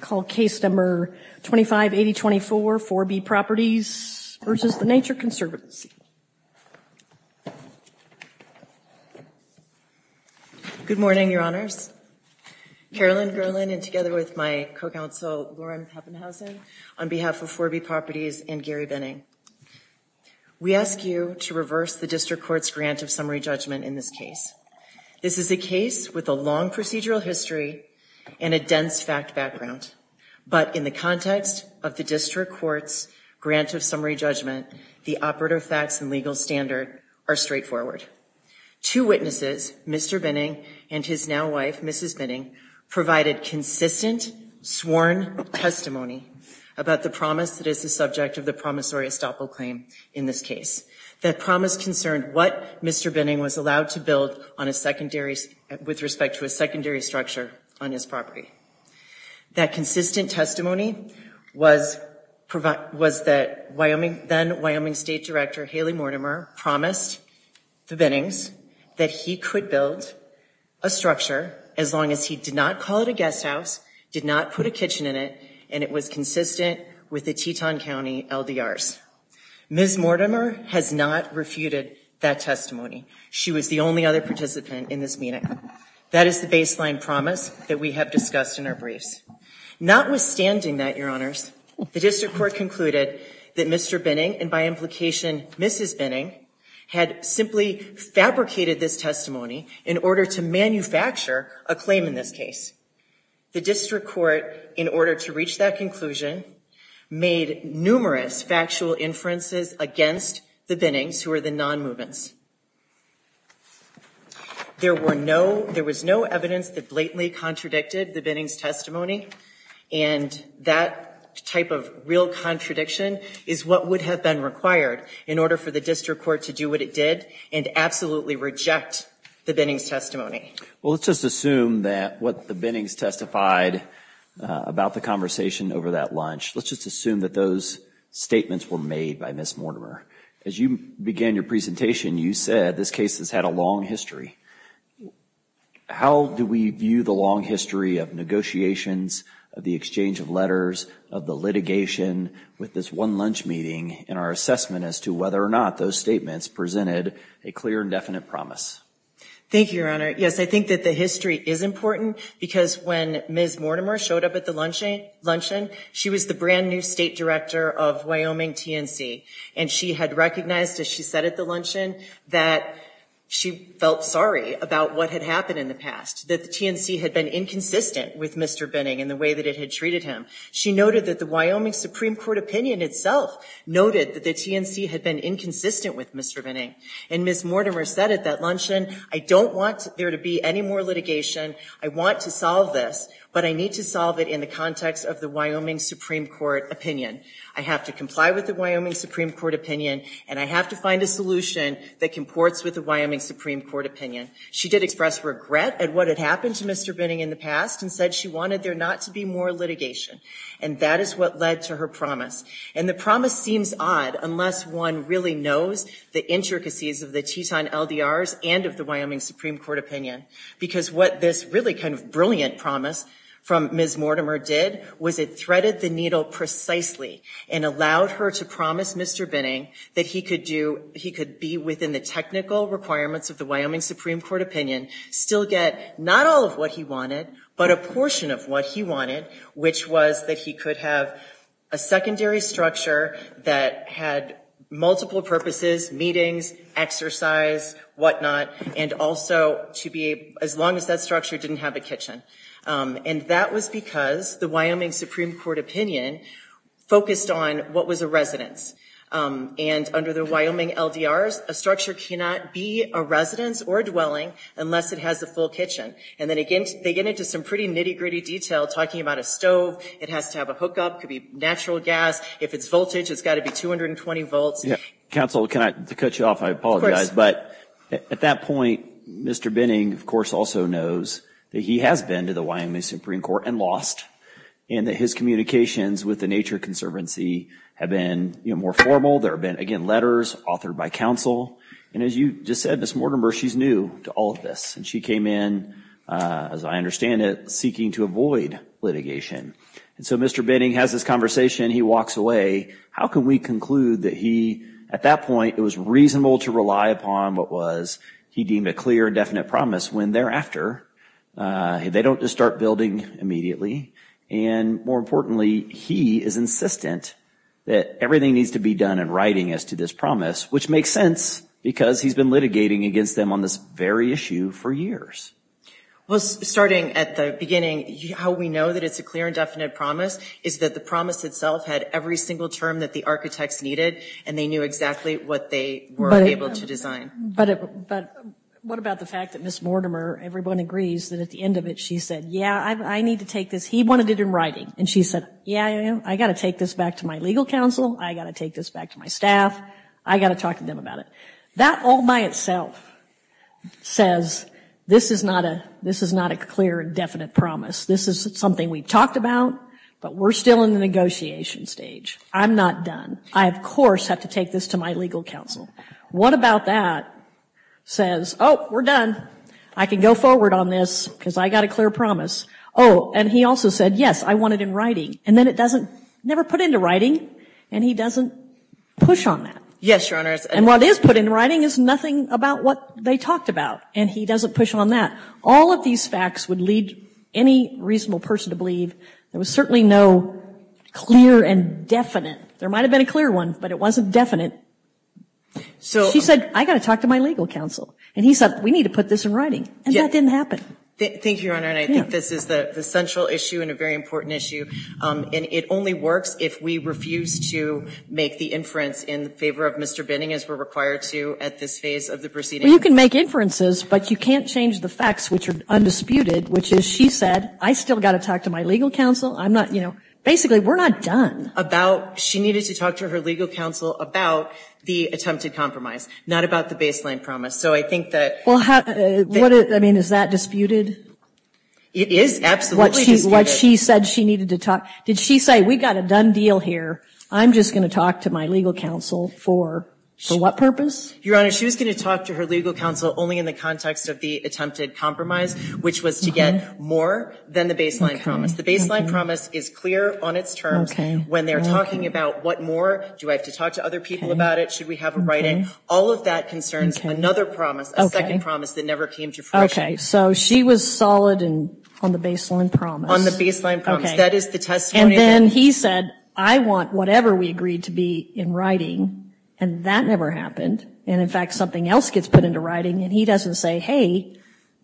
Call Case Number 258024, 4B Properties v. The Nature Conservancy. Good morning, Your Honors. Carolyn Gerland and together with my co-counsel, Lauren Haffenhausen, on behalf of 4B Properties and Gary Benning, we ask you to reverse the district court's grant of summary judgment in this case. This is a case with a long procedural history and a dense fact background, but in the context of the district court's grant of summary judgment, the operative facts and legal standard are straightforward. Two witnesses, Mr. Benning and his now wife, Mrs. Benning, provided consistent sworn testimony about the promise that is the subject of the promissory estoppel claim in this case. That promise concerned what Mr. Benning was allowed to build with respect to a secondary structure on his property. That consistent testimony was that then Wyoming State Director Haley Mortimer promised the Bennings that he could build a structure as long as he did not call it a guest house, did not put a kitchen in it, and it was consistent with the Teton County LDRs. Ms. Mortimer has not refuted that testimony. She was the only other participant in this meeting. That is the baseline promise that we have discussed in our briefs. Notwithstanding that, your honors, the district court concluded that Mr. Benning and by implication Mrs. Benning had simply fabricated this testimony in order to manufacture a claim in this case. The district court in order to reach that conclusion made numerous factual inferences against the Bennings who are the non-movements. There were no, there was no evidence that blatantly contradicted the Bennings testimony and that type of real contradiction is what would have been required in order for the district court to do what it did and absolutely reject the Bennings testimony. Well, let's just assume that what the Bennings testified about the conversation over that lunch, let's just assume that those statements were made by Ms. Mortimer. As you began your presentation, you said this case has had a long history. How do we view the long history of negotiations of the exchange of letters of the litigation with this one lunch meeting and our assessment as to whether or not those statements presented a clear and definite promise? Thank you, your honor. Yes, I think that the history is important because when Ms. Mortimer showed up at the luncheon, she was the brand new state director of Wyoming TNC and she had recognized as she said at the luncheon that she felt sorry about what had happened in the past, that the TNC had been inconsistent with Mr. Benning and the way that it had treated him. She noted that the Wyoming Supreme Court opinion itself noted that the TNC had been inconsistent with Mr. Benning and Ms. Mortimer said at that luncheon, I don't want there to be any more litigation. I want to solve this, but I need to solve it in the context of the Wyoming Supreme Court opinion. I have to comply with the Wyoming Supreme Court opinion and I have to find a solution that comports with the Wyoming Supreme Court opinion. She did express regret at what had happened to Mr. Benning in the past and said she wanted there not to be more litigation and that is what led to her promise and the promise seems odd unless one really knows the intricacies of the Teton LDRs and of the Wyoming Supreme Court opinion because what this really kind of brilliant promise from Ms. Mortimer did was it threaded the needle precisely and allowed her to promise Mr. Benning that he could do, he could be within the technical requirements of the Wyoming Supreme Court opinion, still get not all of what he wanted, but a portion of what he wanted, which was that he could have a secondary structure that had multiple purposes, meetings, exercise, whatnot, and also to be as long as that structure didn't have a kitchen and that was because the Wyoming Supreme Court opinion focused on what was a residence and under the Wyoming LDRs, a structure cannot be a residence or dwelling unless it has a full kitchen and then again, they get into some pretty nitty gritty detail talking about a stove. It has to have a hookup, could be natural gas. If it's voltage, it's got to be 220 volts. Counsel, can I cut you off? I apologize, but at that point, Mr. Benning of course also knows that he has been to the Wyoming Supreme Court and lost and that his communications with the Nature Conservancy have been more formal. There have been again, letters authored by counsel and as you just said, Ms. Mortimer, she's new to all of this and she came in as I understand it, seeking to avoid litigation. And so Mr. Benning has this conversation. He walks away. How can we conclude that he, at that point, it was reasonable to rely upon what was, he deemed a clear and definite promise when thereafter they don't just start building immediately. And more importantly, he is insistent that everything needs to be done in writing as to this promise, which makes sense because he's been litigating against them on this very issue for years. Well, starting at the beginning, how we know that it's a clear and definite promise is that the promise itself had every single term that the architects needed and they knew exactly what they were able to design. But what about the fact that Ms. Mortimer, everyone agrees that at the end of it, she said, yeah, I need to take this. He wanted it in writing. And she said, yeah, I got to take this back to my legal counsel. I got to take this back to my staff. I got to talk to them about it. That all by itself says this is not a, a clear and definite promise. This is something we've talked about, but we're still in the negotiation stage. I'm not done. I of course have to take this to my legal counsel. What about that says, Oh, we're done. I can go forward on this because I got a clear promise. Oh. And he also said, yes, I want it in writing. And then it doesn't never put into writing and he doesn't push on that. Yes, Your Honor. And what is put in writing is nothing about what they talked about. And he doesn't push on that. All of these facts would lead any reasonable person to believe there was certainly no clear and definite. There might've been a clear one, but it wasn't definite. So she said, I got to talk to my legal counsel. And he said, we need to put this in writing. And that didn't happen. Thank you, Your Honor. And I think this is the central issue and a very important issue. Um, and it only works if we refuse to make the inference in favor of Mr. Binning as we're required to at this phase of the proceeding. Well, you can make inferences, but you can't change the facts, which are undisputed, which is, she said, I still got to talk to my legal counsel. I'm not, you know, basically we're not done. About, she needed to talk to her legal counsel about the attempted compromise, not about the baseline promise. So I think that. Well, how, what, I mean, is that disputed? It is absolutely disputed. What she said she needed to talk. Did she say, we got a done deal here. I'm just going to talk to my legal counsel for, for what purpose? Your Honor, she was going to talk to her legal counsel only in the context of the attempted compromise, which was to get more than the baseline promise. The baseline promise is clear on its terms when they're talking about what more do I have to talk to other people about it? Should we have a writing? All of that concerns another promise, a second promise that never came to fruition. Okay. So she was solid and on the baseline promise. On the baseline promise. That is the testimony. And then he said, I want whatever we agreed to be in writing. And that never happened. And in fact, something else gets put into writing. And he doesn't say, Hey,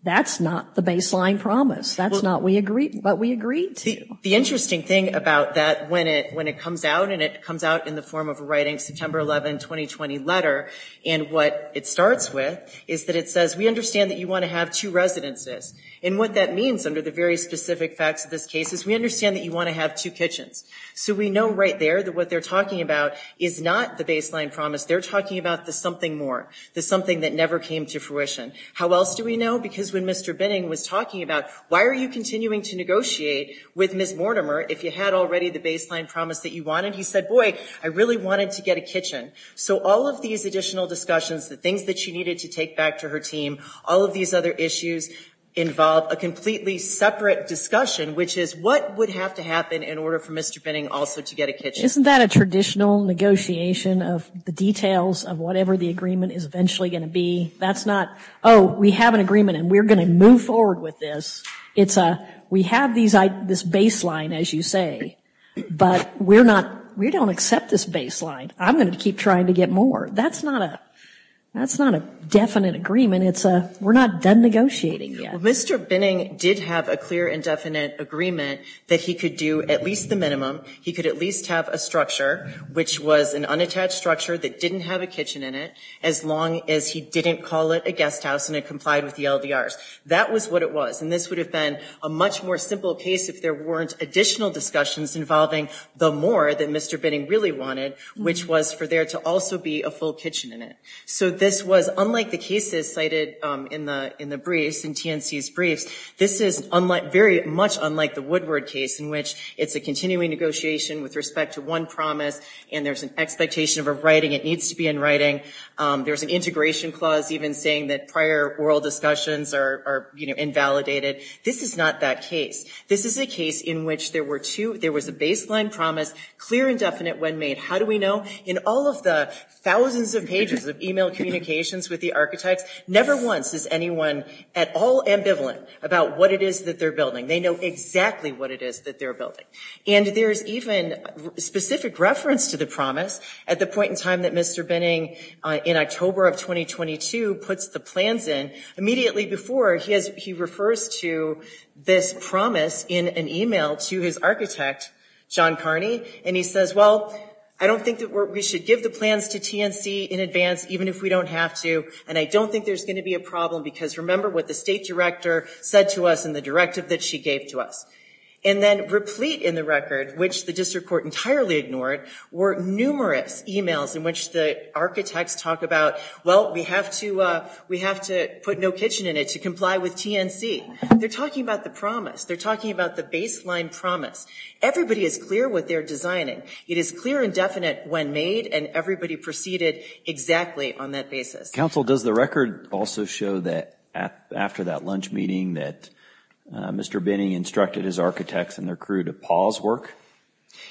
that's not the baseline promise. That's not. We agree, but we agreed to. The interesting thing about that when it, when it comes out and it comes out in the form of a writing September 11, 2020 letter. And what it starts with is that it says we understand that you want to have two residences. And what that means under the very specific facts of this case is we understand that you want to have two kitchens. So we know right there that what they're talking about is not the baseline promise. They're talking about the something more, the something that never came to fruition. How else do we know? Because when Mr. Binning was talking about, why are you continuing to negotiate with Ms. Mortimer? If you had already the baseline promise that you wanted, he said, boy, I really wanted to get a kitchen. So all of these additional discussions, the things that she needed to take back to her team, all of these other issues involve a completely separate discussion, which is what would have to happen in order for Mr. Binning also to get a kitchen. Isn't that a traditional negotiation of the details of whatever the agreement is eventually going to be? That's not, Oh, we have an agreement and we're going to move forward with this. It's a, we have these, this baseline, as you say, but we're not, we don't accept this baseline. I'm going to keep trying to get more. That's not a, that's not a definite agreement. It's a, we're not done negotiating yet. Mr. Binning did have a clear and definite agreement that he could do at least the minimum. He could at least have a structure, which was an unattached structure that didn't have a kitchen in it, as long as he didn't call it a guest house and it complied with the LDRs. That was what it was. And this would have been a much more simple case if there weren't additional discussions involving the more that Mr. Binning really wanted, which was for there to also be a full kitchen in it. So this was unlike the cases cited in the, in the briefs, in TNC's briefs, this is unlike very much unlike the Woodward case in which it's a continuing negotiation with respect to one promise and there's an expectation of a writing it needs to be in writing. There's an integration clause, even saying that prior oral discussions are invalidated. This is not that case. This is a case in which there were two, there was a baseline promise, clear and definite when made. How do we know in all of the thousands of pages of email communications with the architects, never once is anyone at all ambivalent about what it is that they're building. They know exactly what it is that they're building. And there's even specific reference to the promise at the point in time that Mr. Binning in October of 2022 puts the plans in immediately before he has, he refers to this promise in an email to his architect, John Carney. And he says, well, I don't think that we should give the plans to TNC in advance, even if we don't have to. And I don't think there's going to be a problem because remember what the state director said to us in the directive that she gave to us. And then replete in the record, which the district court entirely ignored were numerous emails in which the architects talk about, well, we have to we have to put no kitchen in it to comply with TNC. They're talking about the promise. They're talking about the baseline promise. Everybody is clear with their designing. It is clear and definite when made and everybody proceeded exactly on that basis. does the record also show that after that lunch meeting that Mr. Binning instructed his architects and their crew to pause work?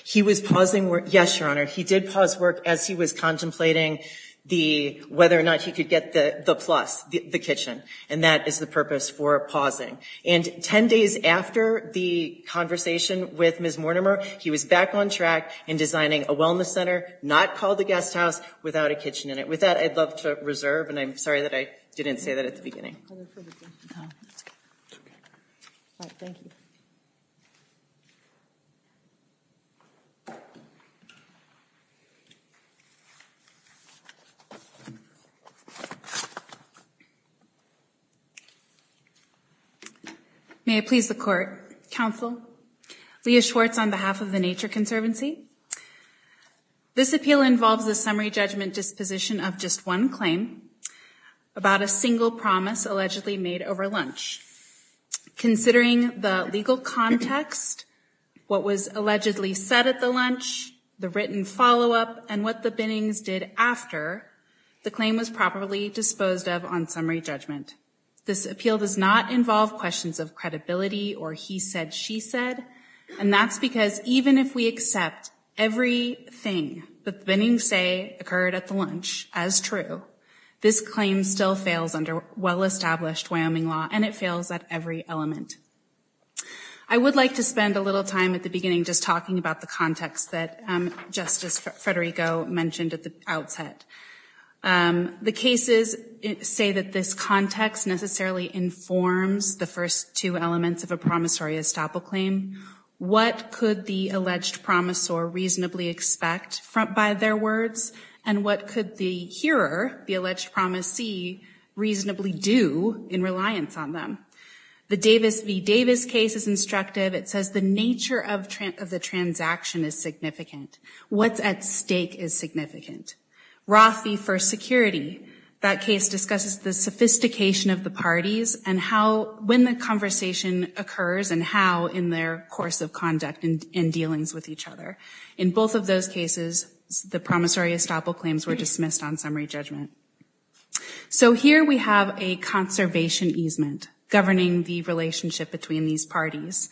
He was pausing work. Yes, your honor. He did pause work as he was contemplating the, whether or not he could get the plus the kitchen. And that is the purpose for pausing. And 10 days after the conversation with Ms. Mortimer, he was back on track and designing a wellness center, not called the guest house without a kitchen in it. With that, I'd love to reserve. And I'm sorry that I didn't say that at the beginning. Thank you. May I please the court counsel Leah Schwartz on behalf of the nature conservancy. This appeal involves the summary judgment disposition of just one claim about a single promise allegedly made over lunch. Considering the legal context, what was allegedly said at the lunch, the written followup and what the binnings did after the claim was properly disposed of on summary judgment. This appeal does not involve questions of credibility or he said, she said, and that's because even if we accept every thing that the binnings say occurred at the lunch as true, this claim still fails under well-established Wyoming law and it fails at every element. I would like to spend a little time at the beginning, just talking about the context that justice Fredericko mentioned at the outset. Um, the cases say that this context necessarily informs the first two elements of a promissory estoppel claim. What could the alleged promissor reasonably expect front by their words and what could the hearer, the alleged promisee reasonably do in reliance on them. The Davis v. Davis case is instructive. It says the nature of the transaction is significant. What's at stake is significant. Roth v. First Security. That case discusses the sophistication of the parties and how, when the conversation occurs and how in their course of conduct and in dealings with each other. In both of those cases, the promissory estoppel claims were dismissed on summary judgment. So here we have a conservation easement governing the relationship between these parties.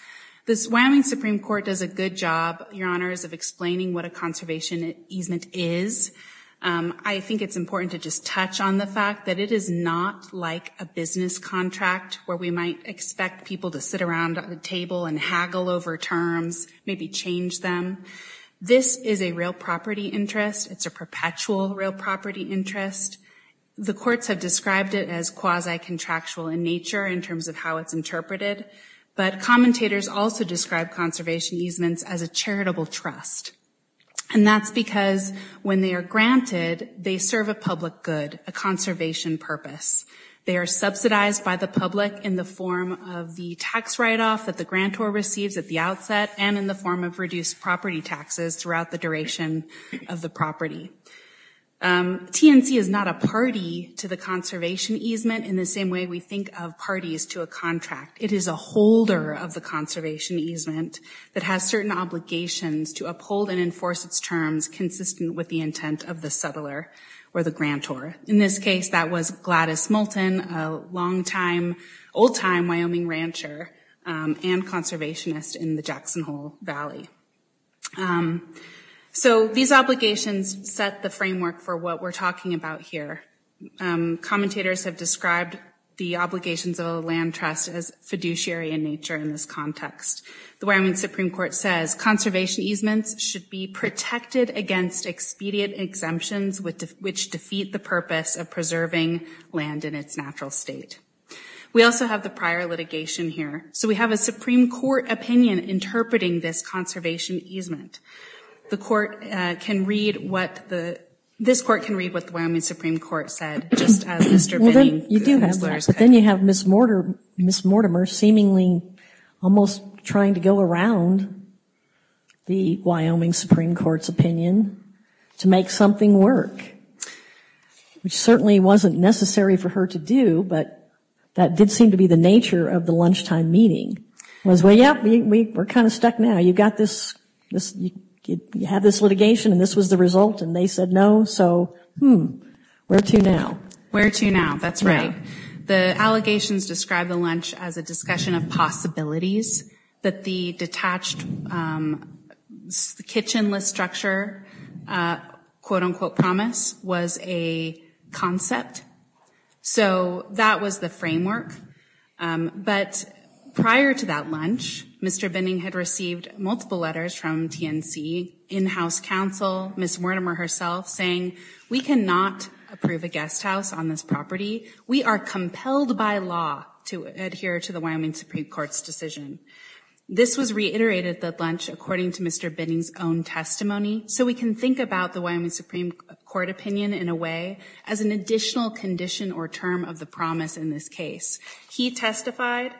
This Wyoming Supreme Court does a good job, Your Honors, of explaining what a conservation easement is. Um, I think it's important to just touch on the fact that it is not like a business contract where we might expect people to sit around the table and haggle over terms, maybe change them. This is a real property interest. It's a perpetual real property interest. The courts have described it as quasi contractual in nature in terms of how it's interpreted. But commentators also describe conservation easements as a charitable trust. And that's because when they are granted, they serve a public good, a conservation purpose. They are subsidized by the public in the form of the tax write-off that the grantor receives at the outset and in the form of reduced property taxes throughout the duration of the property. Um, TNC is not a party to the conservation easement in the same way we think of parties to a contract. It is a holder of the conservation easement that has certain obligations to uphold and enforce its terms consistent with the intent of the settler or the grantor. In this case, that was Gladys Moulton, a long time, old time Wyoming rancher, um, and conservationist in the Jackson Hole Valley. Um, so these obligations set the framework for what we're talking about here. Um, fiduciary in nature. In this context, the Wyoming Supreme Court says conservation easements should be protected against expedient exemptions with which defeat the purpose of preserving land in its natural state. We also have the prior litigation here. So we have a Supreme Court opinion interpreting this conservation easement. The court can read what the, this court can read what the Wyoming Supreme Court said, just as Mr. You do have, but then you have Ms. Ms. Mortimer seemingly almost trying to go around the Wyoming Supreme Court's opinion to make something work, which certainly wasn't necessary for her to do, but that did seem to be the nature of the lunchtime meeting was, yeah, we were kind of stuck. Now you've got this, this, you have this litigation and this was the result and they said no. So, hmm, where to now? Where to now? That's right. The allegations described the lunch as a discussion of possibilities that the detached, um, the kitchen list structure, uh, quote unquote promise was a concept. So that was the framework. Um, but prior to that lunch, Mr. Binning had received multiple letters from TNC in-house counsel, Ms. Mortimer herself saying we cannot approve a guest house on this property. We are compelled by law to adhere to the Wyoming Supreme Court's decision. This was reiterated that lunch, according to Mr. Binning's own testimony. So we can think about the Wyoming Supreme Court opinion in a way as an additional condition or term of the promise in this case. He testified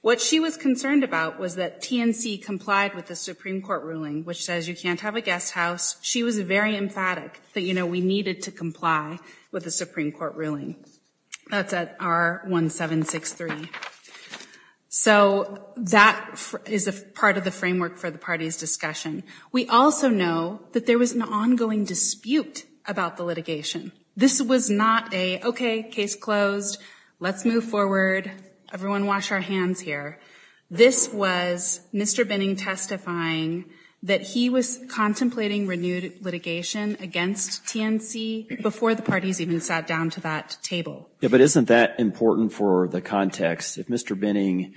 what she was concerned about was that TNC complied with the Supreme Court ruling, which says you can't have a guest house. She was very emphatic that, we needed to comply with the Supreme Court ruling. That's at R 1763. So that is a part of the framework for the party's discussion. We also know that there was an ongoing dispute about the litigation. This was not a, case closed. Let's move forward. Everyone wash our hands here. This was Mr. Binning testifying that he was contemplating renewed litigation against TNC before the parties even sat down to that table. Yeah, but isn't that important for the context? If Mr. Binning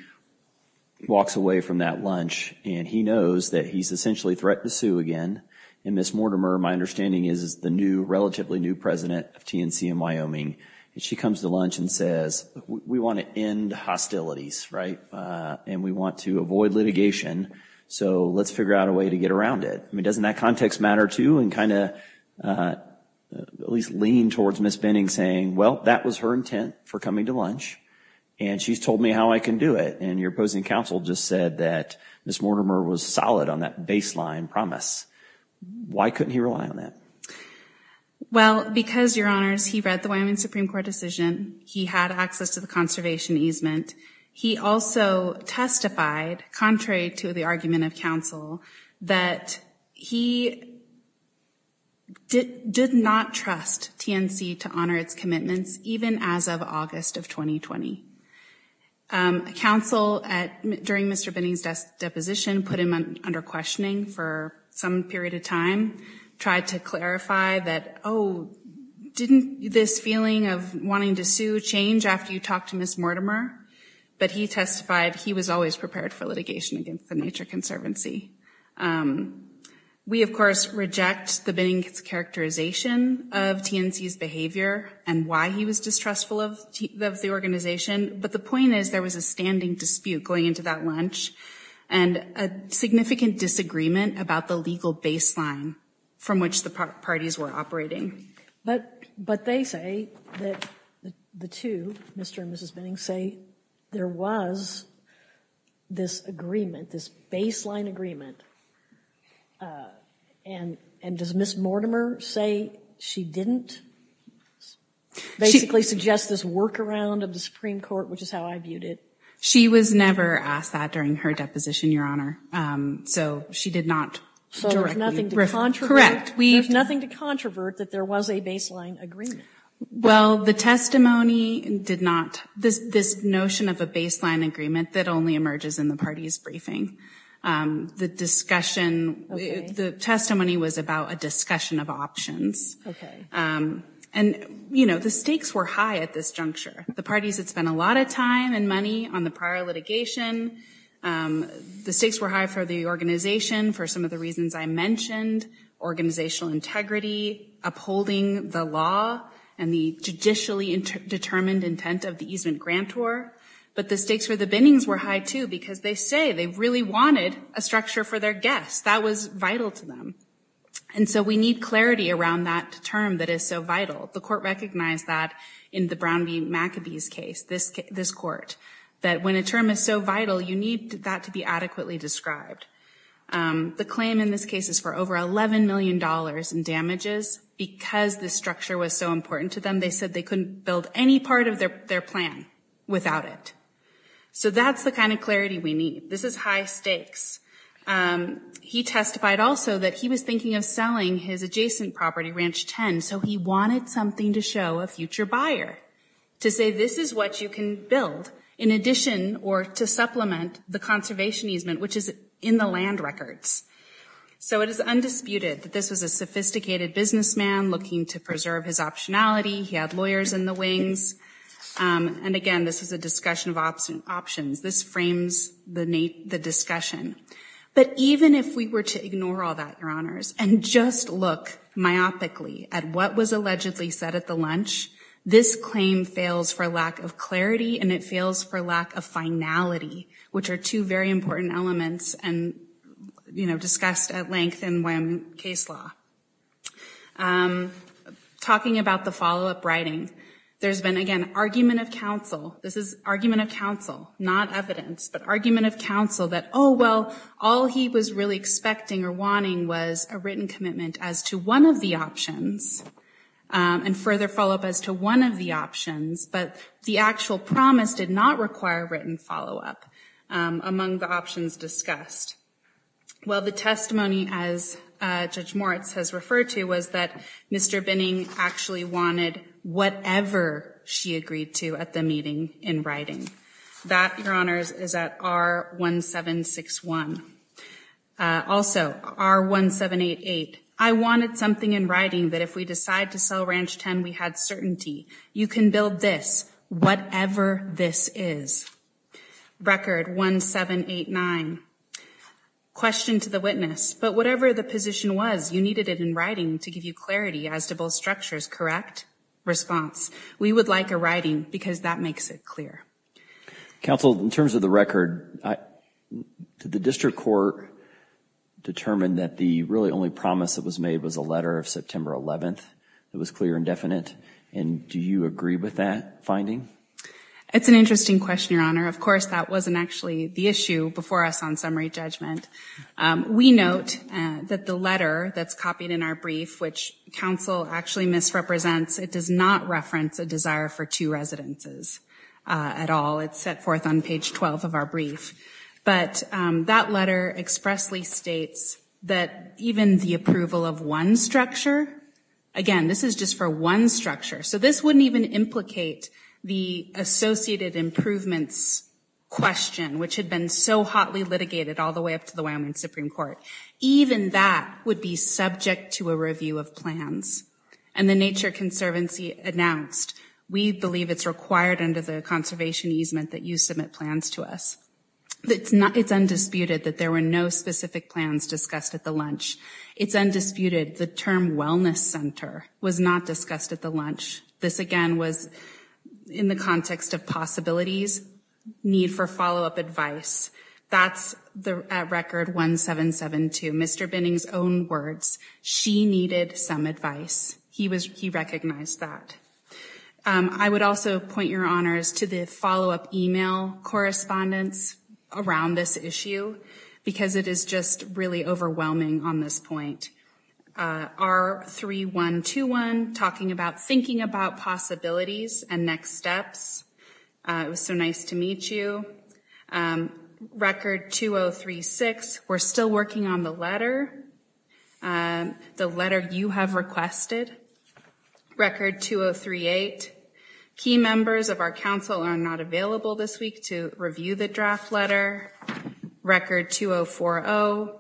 walks away from that lunch and he knows that he's essentially threatened to sue again and Ms. Mortimer, my understanding is is the new relatively new president of TNC in Wyoming and she comes to lunch and says we want to end hostilities, right? And we want to avoid litigation. So let's figure out a way to get around it. I mean, doesn't that context matter too? And kind of at least lean towards Ms. Binning saying, well, that was her intent for coming to lunch and she's told me how I can do it. And your opposing counsel just said that Ms. Mortimer was solid on that baseline promise. Why couldn't he rely on that? Well, because your honors, he read the Wyoming Supreme Court decision. He had access to the conservation easement. He also testified contrary to the argument of counsel that he, did not trust TNC to honor its commitments even as of August of 2020. Counsel at during Mr. Binning's deposition put him under questioning for some period of time, tried to clarify that, oh, didn't this feeling of wanting to sue change after you talked to Ms. Mortimer? But he testified he was always prepared for litigation against the Nature Conservancy. Um, we of course reject the Binning's characterization of TNC's behavior and why he was distrustful of the organization. But the point is there was a standing dispute going into that lunch and a significant disagreement about the legal baseline from which the parties were operating. But, but they say that the two, Mr. and Mrs. Binning say there was this agreement, this baseline agreement. Uh, and, and does Ms. Mortimer say she didn't basically suggest this workaround of the Supreme court, which is how I viewed it. She was never asked that during her deposition, your honor. Um, so she did not directly correct. We have nothing to controvert that there was a baseline agreement. Well, the testimony did not this, this notion of a baseline agreement that only emerges in the party's briefing. Um, the discussion, the testimony was about a discussion of options. Um, and you know, the stakes were high at this juncture, the parties that spent a lot of time and money on the prior litigation. Um, the stakes were high for the organization for some of the reasons I mentioned organizational integrity, upholding the law and the judicially determined intent of the easement grant tour. But the stakes for the binnings were high too, because they say they really wanted a structure for their guests that was vital to them. And so we need clarity around that term that is so vital. The court recognized that in the Brown v. McAbee's case, this, this court, that when a term is so vital, you need that to be adequately described. Um, the claim in this case is for over $11 million in damages because the structure was so important to them. They said they couldn't build any part of their, their plan without it. So that's the kind of clarity we need. This is high stakes. Um, he testified also that he was thinking of selling his adjacent property ranch 10. So he wanted something to show a future buyer to say, this is what you can build in addition or to supplement the conservation easement, which is in the land records. So it is undisputed that this was a sophisticated businessman looking to preserve his optionality. He had lawyers in the wings. Um, and again, this is a discussion of option options. This frames the Nate, the discussion. But even if we were to ignore all that, your honors, and just look myopically at what was allegedly said at the lunch, this claim fails for lack of clarity. And it fails for lack of finality, which are two very important elements and you know, discussed at length and when case law, um, talking about the followup writing, there's been again, argument of counsel. This is argument of counsel, not evidence, but argument of counsel that, well, all he was really expecting or wanting was a written commitment as to one of the options. Um, and further follow up as to one of the options, but the actual promise did not require written followup, um, among the options discussed. Well, the testimony as a judge Moritz has referred to was that Mr. Binning actually wanted whatever she agreed to at the meeting in writing that your honors is at our one seven, one, uh, also our one seven, eight, eight. I wanted something in writing that if we decide to sell ranch 10, we had certainty. You can build this, whatever this is record one, seven, eight, nine question to the witness, but whatever the position was, you needed it in writing to give you clarity as to both structures, correct response. We would like a writing because that makes it clear. Counsel, in terms of the record to the district court determined that the really only promise that was made was a letter of September 11th. It was clear and definite. And do you agree with that finding? It's an interesting question, Of course, that wasn't actually the issue before us on summary judgment. Um, we note that the letter that's copied in our brief, which counsel actually misrepresents, it does not reference a desire for two residences, uh, at all. It's set forth on page 12 of our brief. But, um, that letter expressly States that even the approval of one structure, again, this is just for one structure. So this wouldn't even implicate the associated improvements question, which had been so hotly litigated all the way up to the Wyoming Supreme court. Even that would be subject to a review of plans and the nature conservancy announced. We believe it's required under the conservation easement that you submit plans to us. It's not, it's undisputed that there were no specific plans discussed at the lunch. It's undisputed. The term wellness center was not discussed at the lunch. This again was in the context of possibilities need for followup advice. That's the record. One seven, seven, two, Mr. Binning's own words. She needed some advice. He was, he recognized that. Um, I would also point your honors to the followup email correspondence around this issue because it is just really overwhelming on this point. Uh, our three one to one talking about thinking about possibilities and next steps. Uh, it was so nice to meet you. Um, record two Oh three, six. We're still working on the letter. Um, the letter you have requested record two Oh three eight key members of our council are not available this week to review the draft letter record two Oh four Oh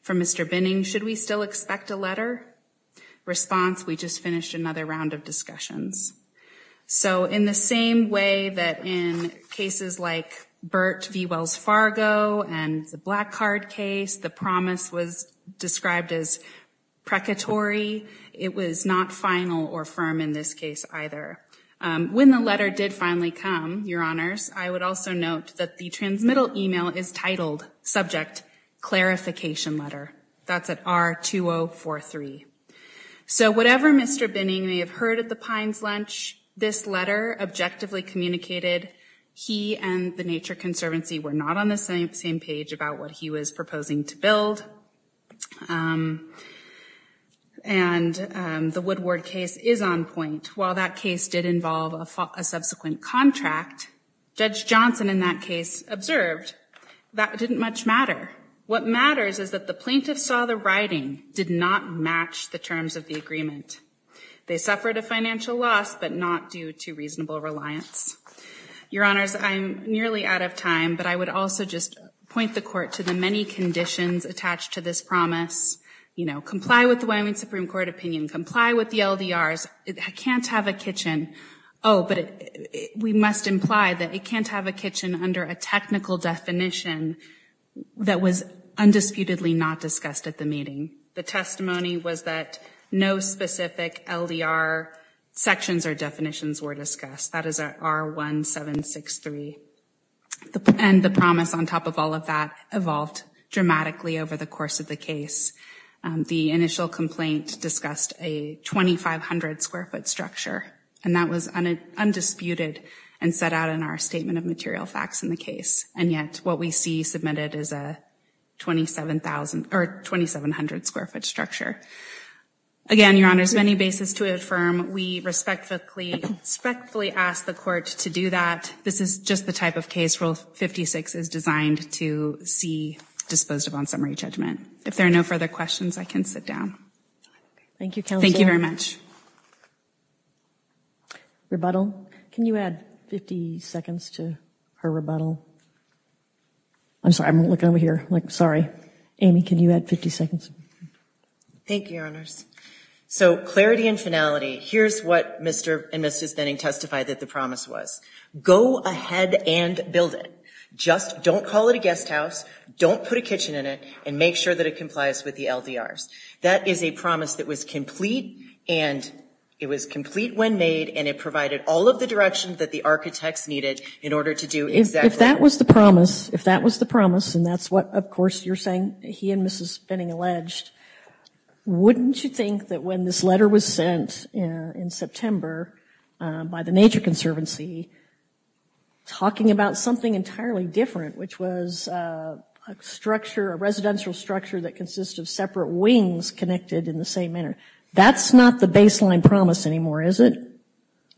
from Mr. Binning. Should we still expect a letter response? We just finished another round of discussions. So in the same way that in cases like Bert V Wells Fargo and the black card case, the promise was described as precatory. It was not final or firm in this case either. Um, when the letter did finally come, your honors, I would also note that the transmittal email is titled subject clarification letter. That's at our two Oh four three. So whatever Mr. Binning, you may have heard at the Pines lunch, this letter objectively communicated he and the nature conservancy were not on the same, same page about what he was proposing to build. Um, and um, the Woodward case is on point while that case did involve a subsequent contract. Judge Johnson in that case observed that it didn't much matter. What matters is that the plaintiff saw the writing did not match the terms of the agreement. They suffered a financial loss but not due to reasonable reliance. Your honors, I'm nearly out of time, but I would also just point the court to the many conditions attached to this promise. You know, comply with the Wyoming Supreme Court opinion, comply with the LDRs. It can't have a kitchen. Oh, but we must imply that it can't have a kitchen under a technical definition that was undisputedly not discussed at the meeting. The testimony was that no specific LDR sections or definitions were discussed. That is our R1763 and the promise on top of all of that evolved dramatically over the course of the case. The initial complaint discussed a 2,500 square foot structure and that was undisputed and set out in our statement of material facts in the case. And yet what we see submitted is a 27,000 or 2,700 square foot. Structure. Again, your honors, many basis to affirm. We respectfully respectfully ask the court to do that. This is just the type of case rule 56 is designed to see disposed of on summary judgment. If there are no further questions, I can sit down. Thank you. Thank you very much. Rebuttal. Can you add 50 seconds to her rebuttal? I'm sorry. I'm looking over here like, sorry, Amy, can you add 50 seconds? Thank you, So clarity and finality. Here's what Mr and Mrs Benning testified that the promise was go ahead and build it. Just don't call it a guest house. Don't put a kitchen in it and make sure that it complies with the LDRs. That is a promise that was complete and it was complete when made and it provided all of the direction that the architects needed in order to do exactly. If that was the promise, if that was the promise and that's what of course you're saying he and Mrs Benning alleged, wouldn't you think that when this letter was sent in September by the Nature Conservancy talking about something entirely different, which was a structure, a residential structure that consists of separate wings connected in the same manner. That's not the baseline promise anymore, is it?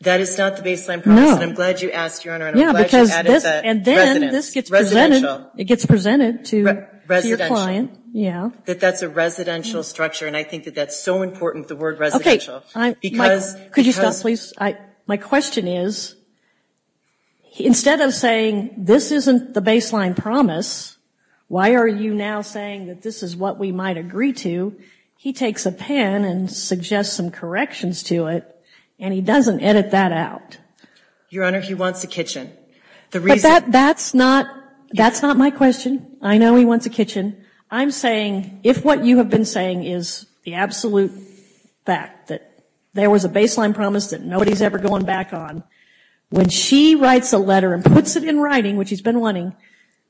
That is not the baseline promise. And I'm glad you asked your honor. And I'm glad you added that. And then this gets presented, it gets presented to your client. Yeah. That that's a residential structure. And I think that that's so important, the word residential. Could you stop please? my question is instead of saying this isn't the baseline promise, why are you now saying that this is what we might agree to? He takes a pen and suggests some corrections to it and he doesn't edit that out. Your honor, he wants a kitchen. The reason. That's not, that's not my question. I know he wants a kitchen. I'm saying if what you have been saying is the absolute fact that there was a baseline promise that nobody's ever going back on, when she writes a letter and puts it in writing, which he's been wanting,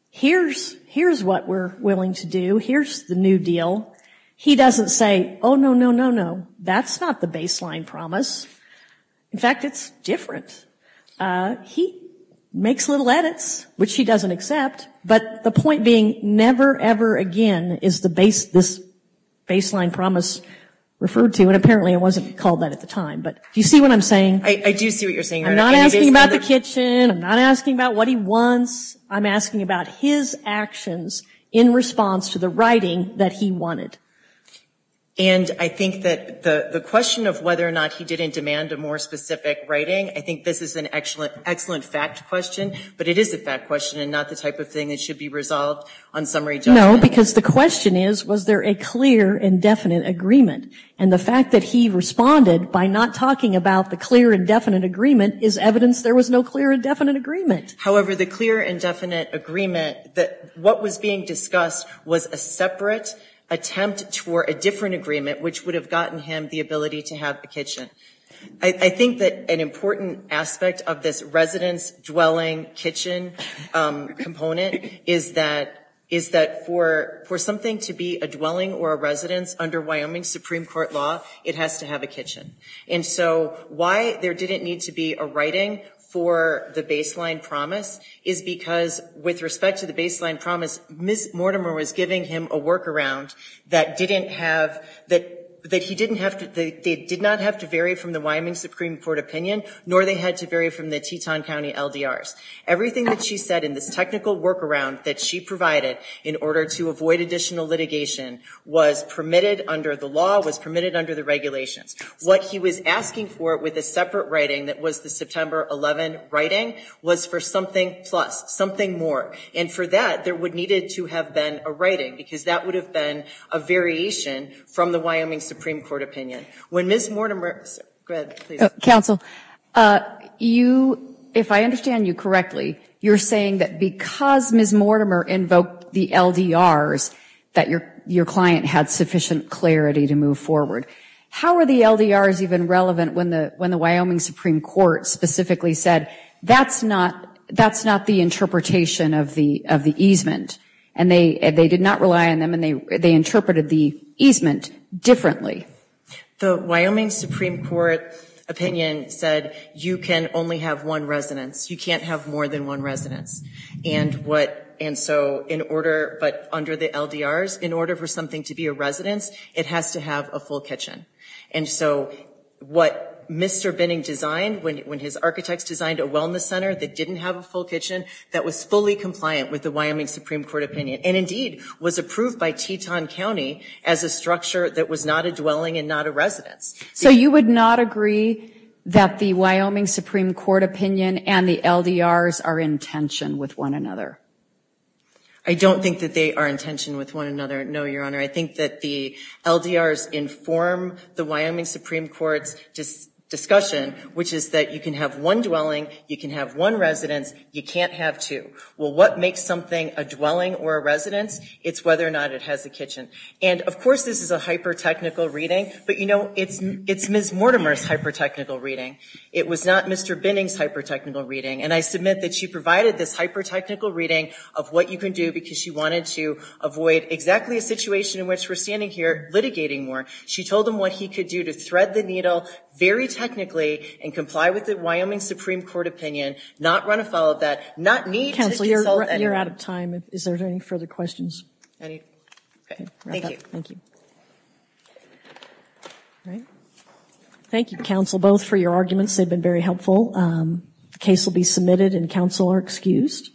here's, here's what we're willing to do. Here's the new deal. He doesn't say, Oh no, no, no, no. That's not the baseline promise. In fact, it's different. Uh, he makes little edits, which he doesn't accept. But the point being never ever again is the base, this baseline promise referred to, and apparently it wasn't called that at the time, but do you see what I'm saying? I do see what you're saying. I'm not asking about the kitchen. I'm not asking about what he wants. I'm asking about his actions in response to the writing that he wanted. And I think that the question of whether or not he didn't demand a more specific writing, I think this is an excellent, excellent fact question, but it is a fact question and not the type of thing that should be resolved on summary. No, because the question is, was there a clear and definite agreement? And the fact that he responded by not talking about the clear and definite agreement is evidence. There was no clear and definite agreement. However, the clear and definite agreement that what was being discussed was a separate attempt toward a different agreement, which would have gotten him the ability to have the kitchen. I think that an important aspect of this residence dwelling kitchen component is that, is that for, for something to be a dwelling or a residence under Wyoming Supreme Court law, it has to have a kitchen. And so why there didn't need to be a writing for the baseline promise is because with respect to the baseline promise, Ms. Mortimer was giving him a workaround that didn't have, that, that he didn't have to, they did not have to vary from the Wyoming Supreme Court opinion, nor they had to vary from the Teton County LDRs. Everything that she said in this technical workaround that she provided in order to avoid additional litigation was permitted under the law, was permitted under the regulations. What he was asking for it with a separate writing that was the September 11 writing was for something plus something more. And for that there would needed to have been a writing because that would have been a variation from the Wyoming Supreme Court opinion. When Ms. Mortimer, go ahead please. Counsel, you, if I understand you correctly, you're saying that because Ms. Mortimer invoked the LDRs that your, your client had sufficient clarity to move forward. How are the LDRs even relevant when the, when the Wyoming Supreme Court specifically said that's not, that's not the interpretation of the, of the easement and they, they did not rely on them and they, they interpreted the easement differently. The Wyoming Supreme Court opinion said you can only have one residence. You can't have more than one residence. And what, and so in order, but under the LDRs in order for something to be a residence, it has to have a full kitchen. And so what Mr. Binning designed when, when his architects designed a wellness center that didn't have a full kitchen that was fully compliant with the Wyoming Supreme Court opinion. And indeed was approved by Teton County as a structure that was not a dwelling and not a residence. So you would not agree that the Wyoming Supreme Court opinion and the LDRs are in tension with one another. I don't think that they are in tension with one another. No, Your Honor. I think that the LDRs inform the Wyoming Supreme Court's discussion, which is that you can have one dwelling, you can have one residence, you can't have two. Well, what makes something a dwelling or a residence? It's whether or not it has a kitchen. And of course this is a hyper-technical reading, but you know, it's, it's Ms. Mortimer's hyper-technical reading. It was not Mr. Binning's hyper-technical reading. And I submit that she provided this hyper-technical reading of what you can do because she wanted to avoid exactly a situation in which we're standing here litigating more. She told him what he could do to thread the needle very technically and comply with the Wyoming Supreme Court opinion, not run afoul of that, not need to dissolve anyone. Counselor, you're out of time. Is there any further questions? Any? Okay. Thank you. Thank you. All right. Thank you, counsel, both for your arguments. They've been very helpful. Um, case will be submitted and counsel are excused.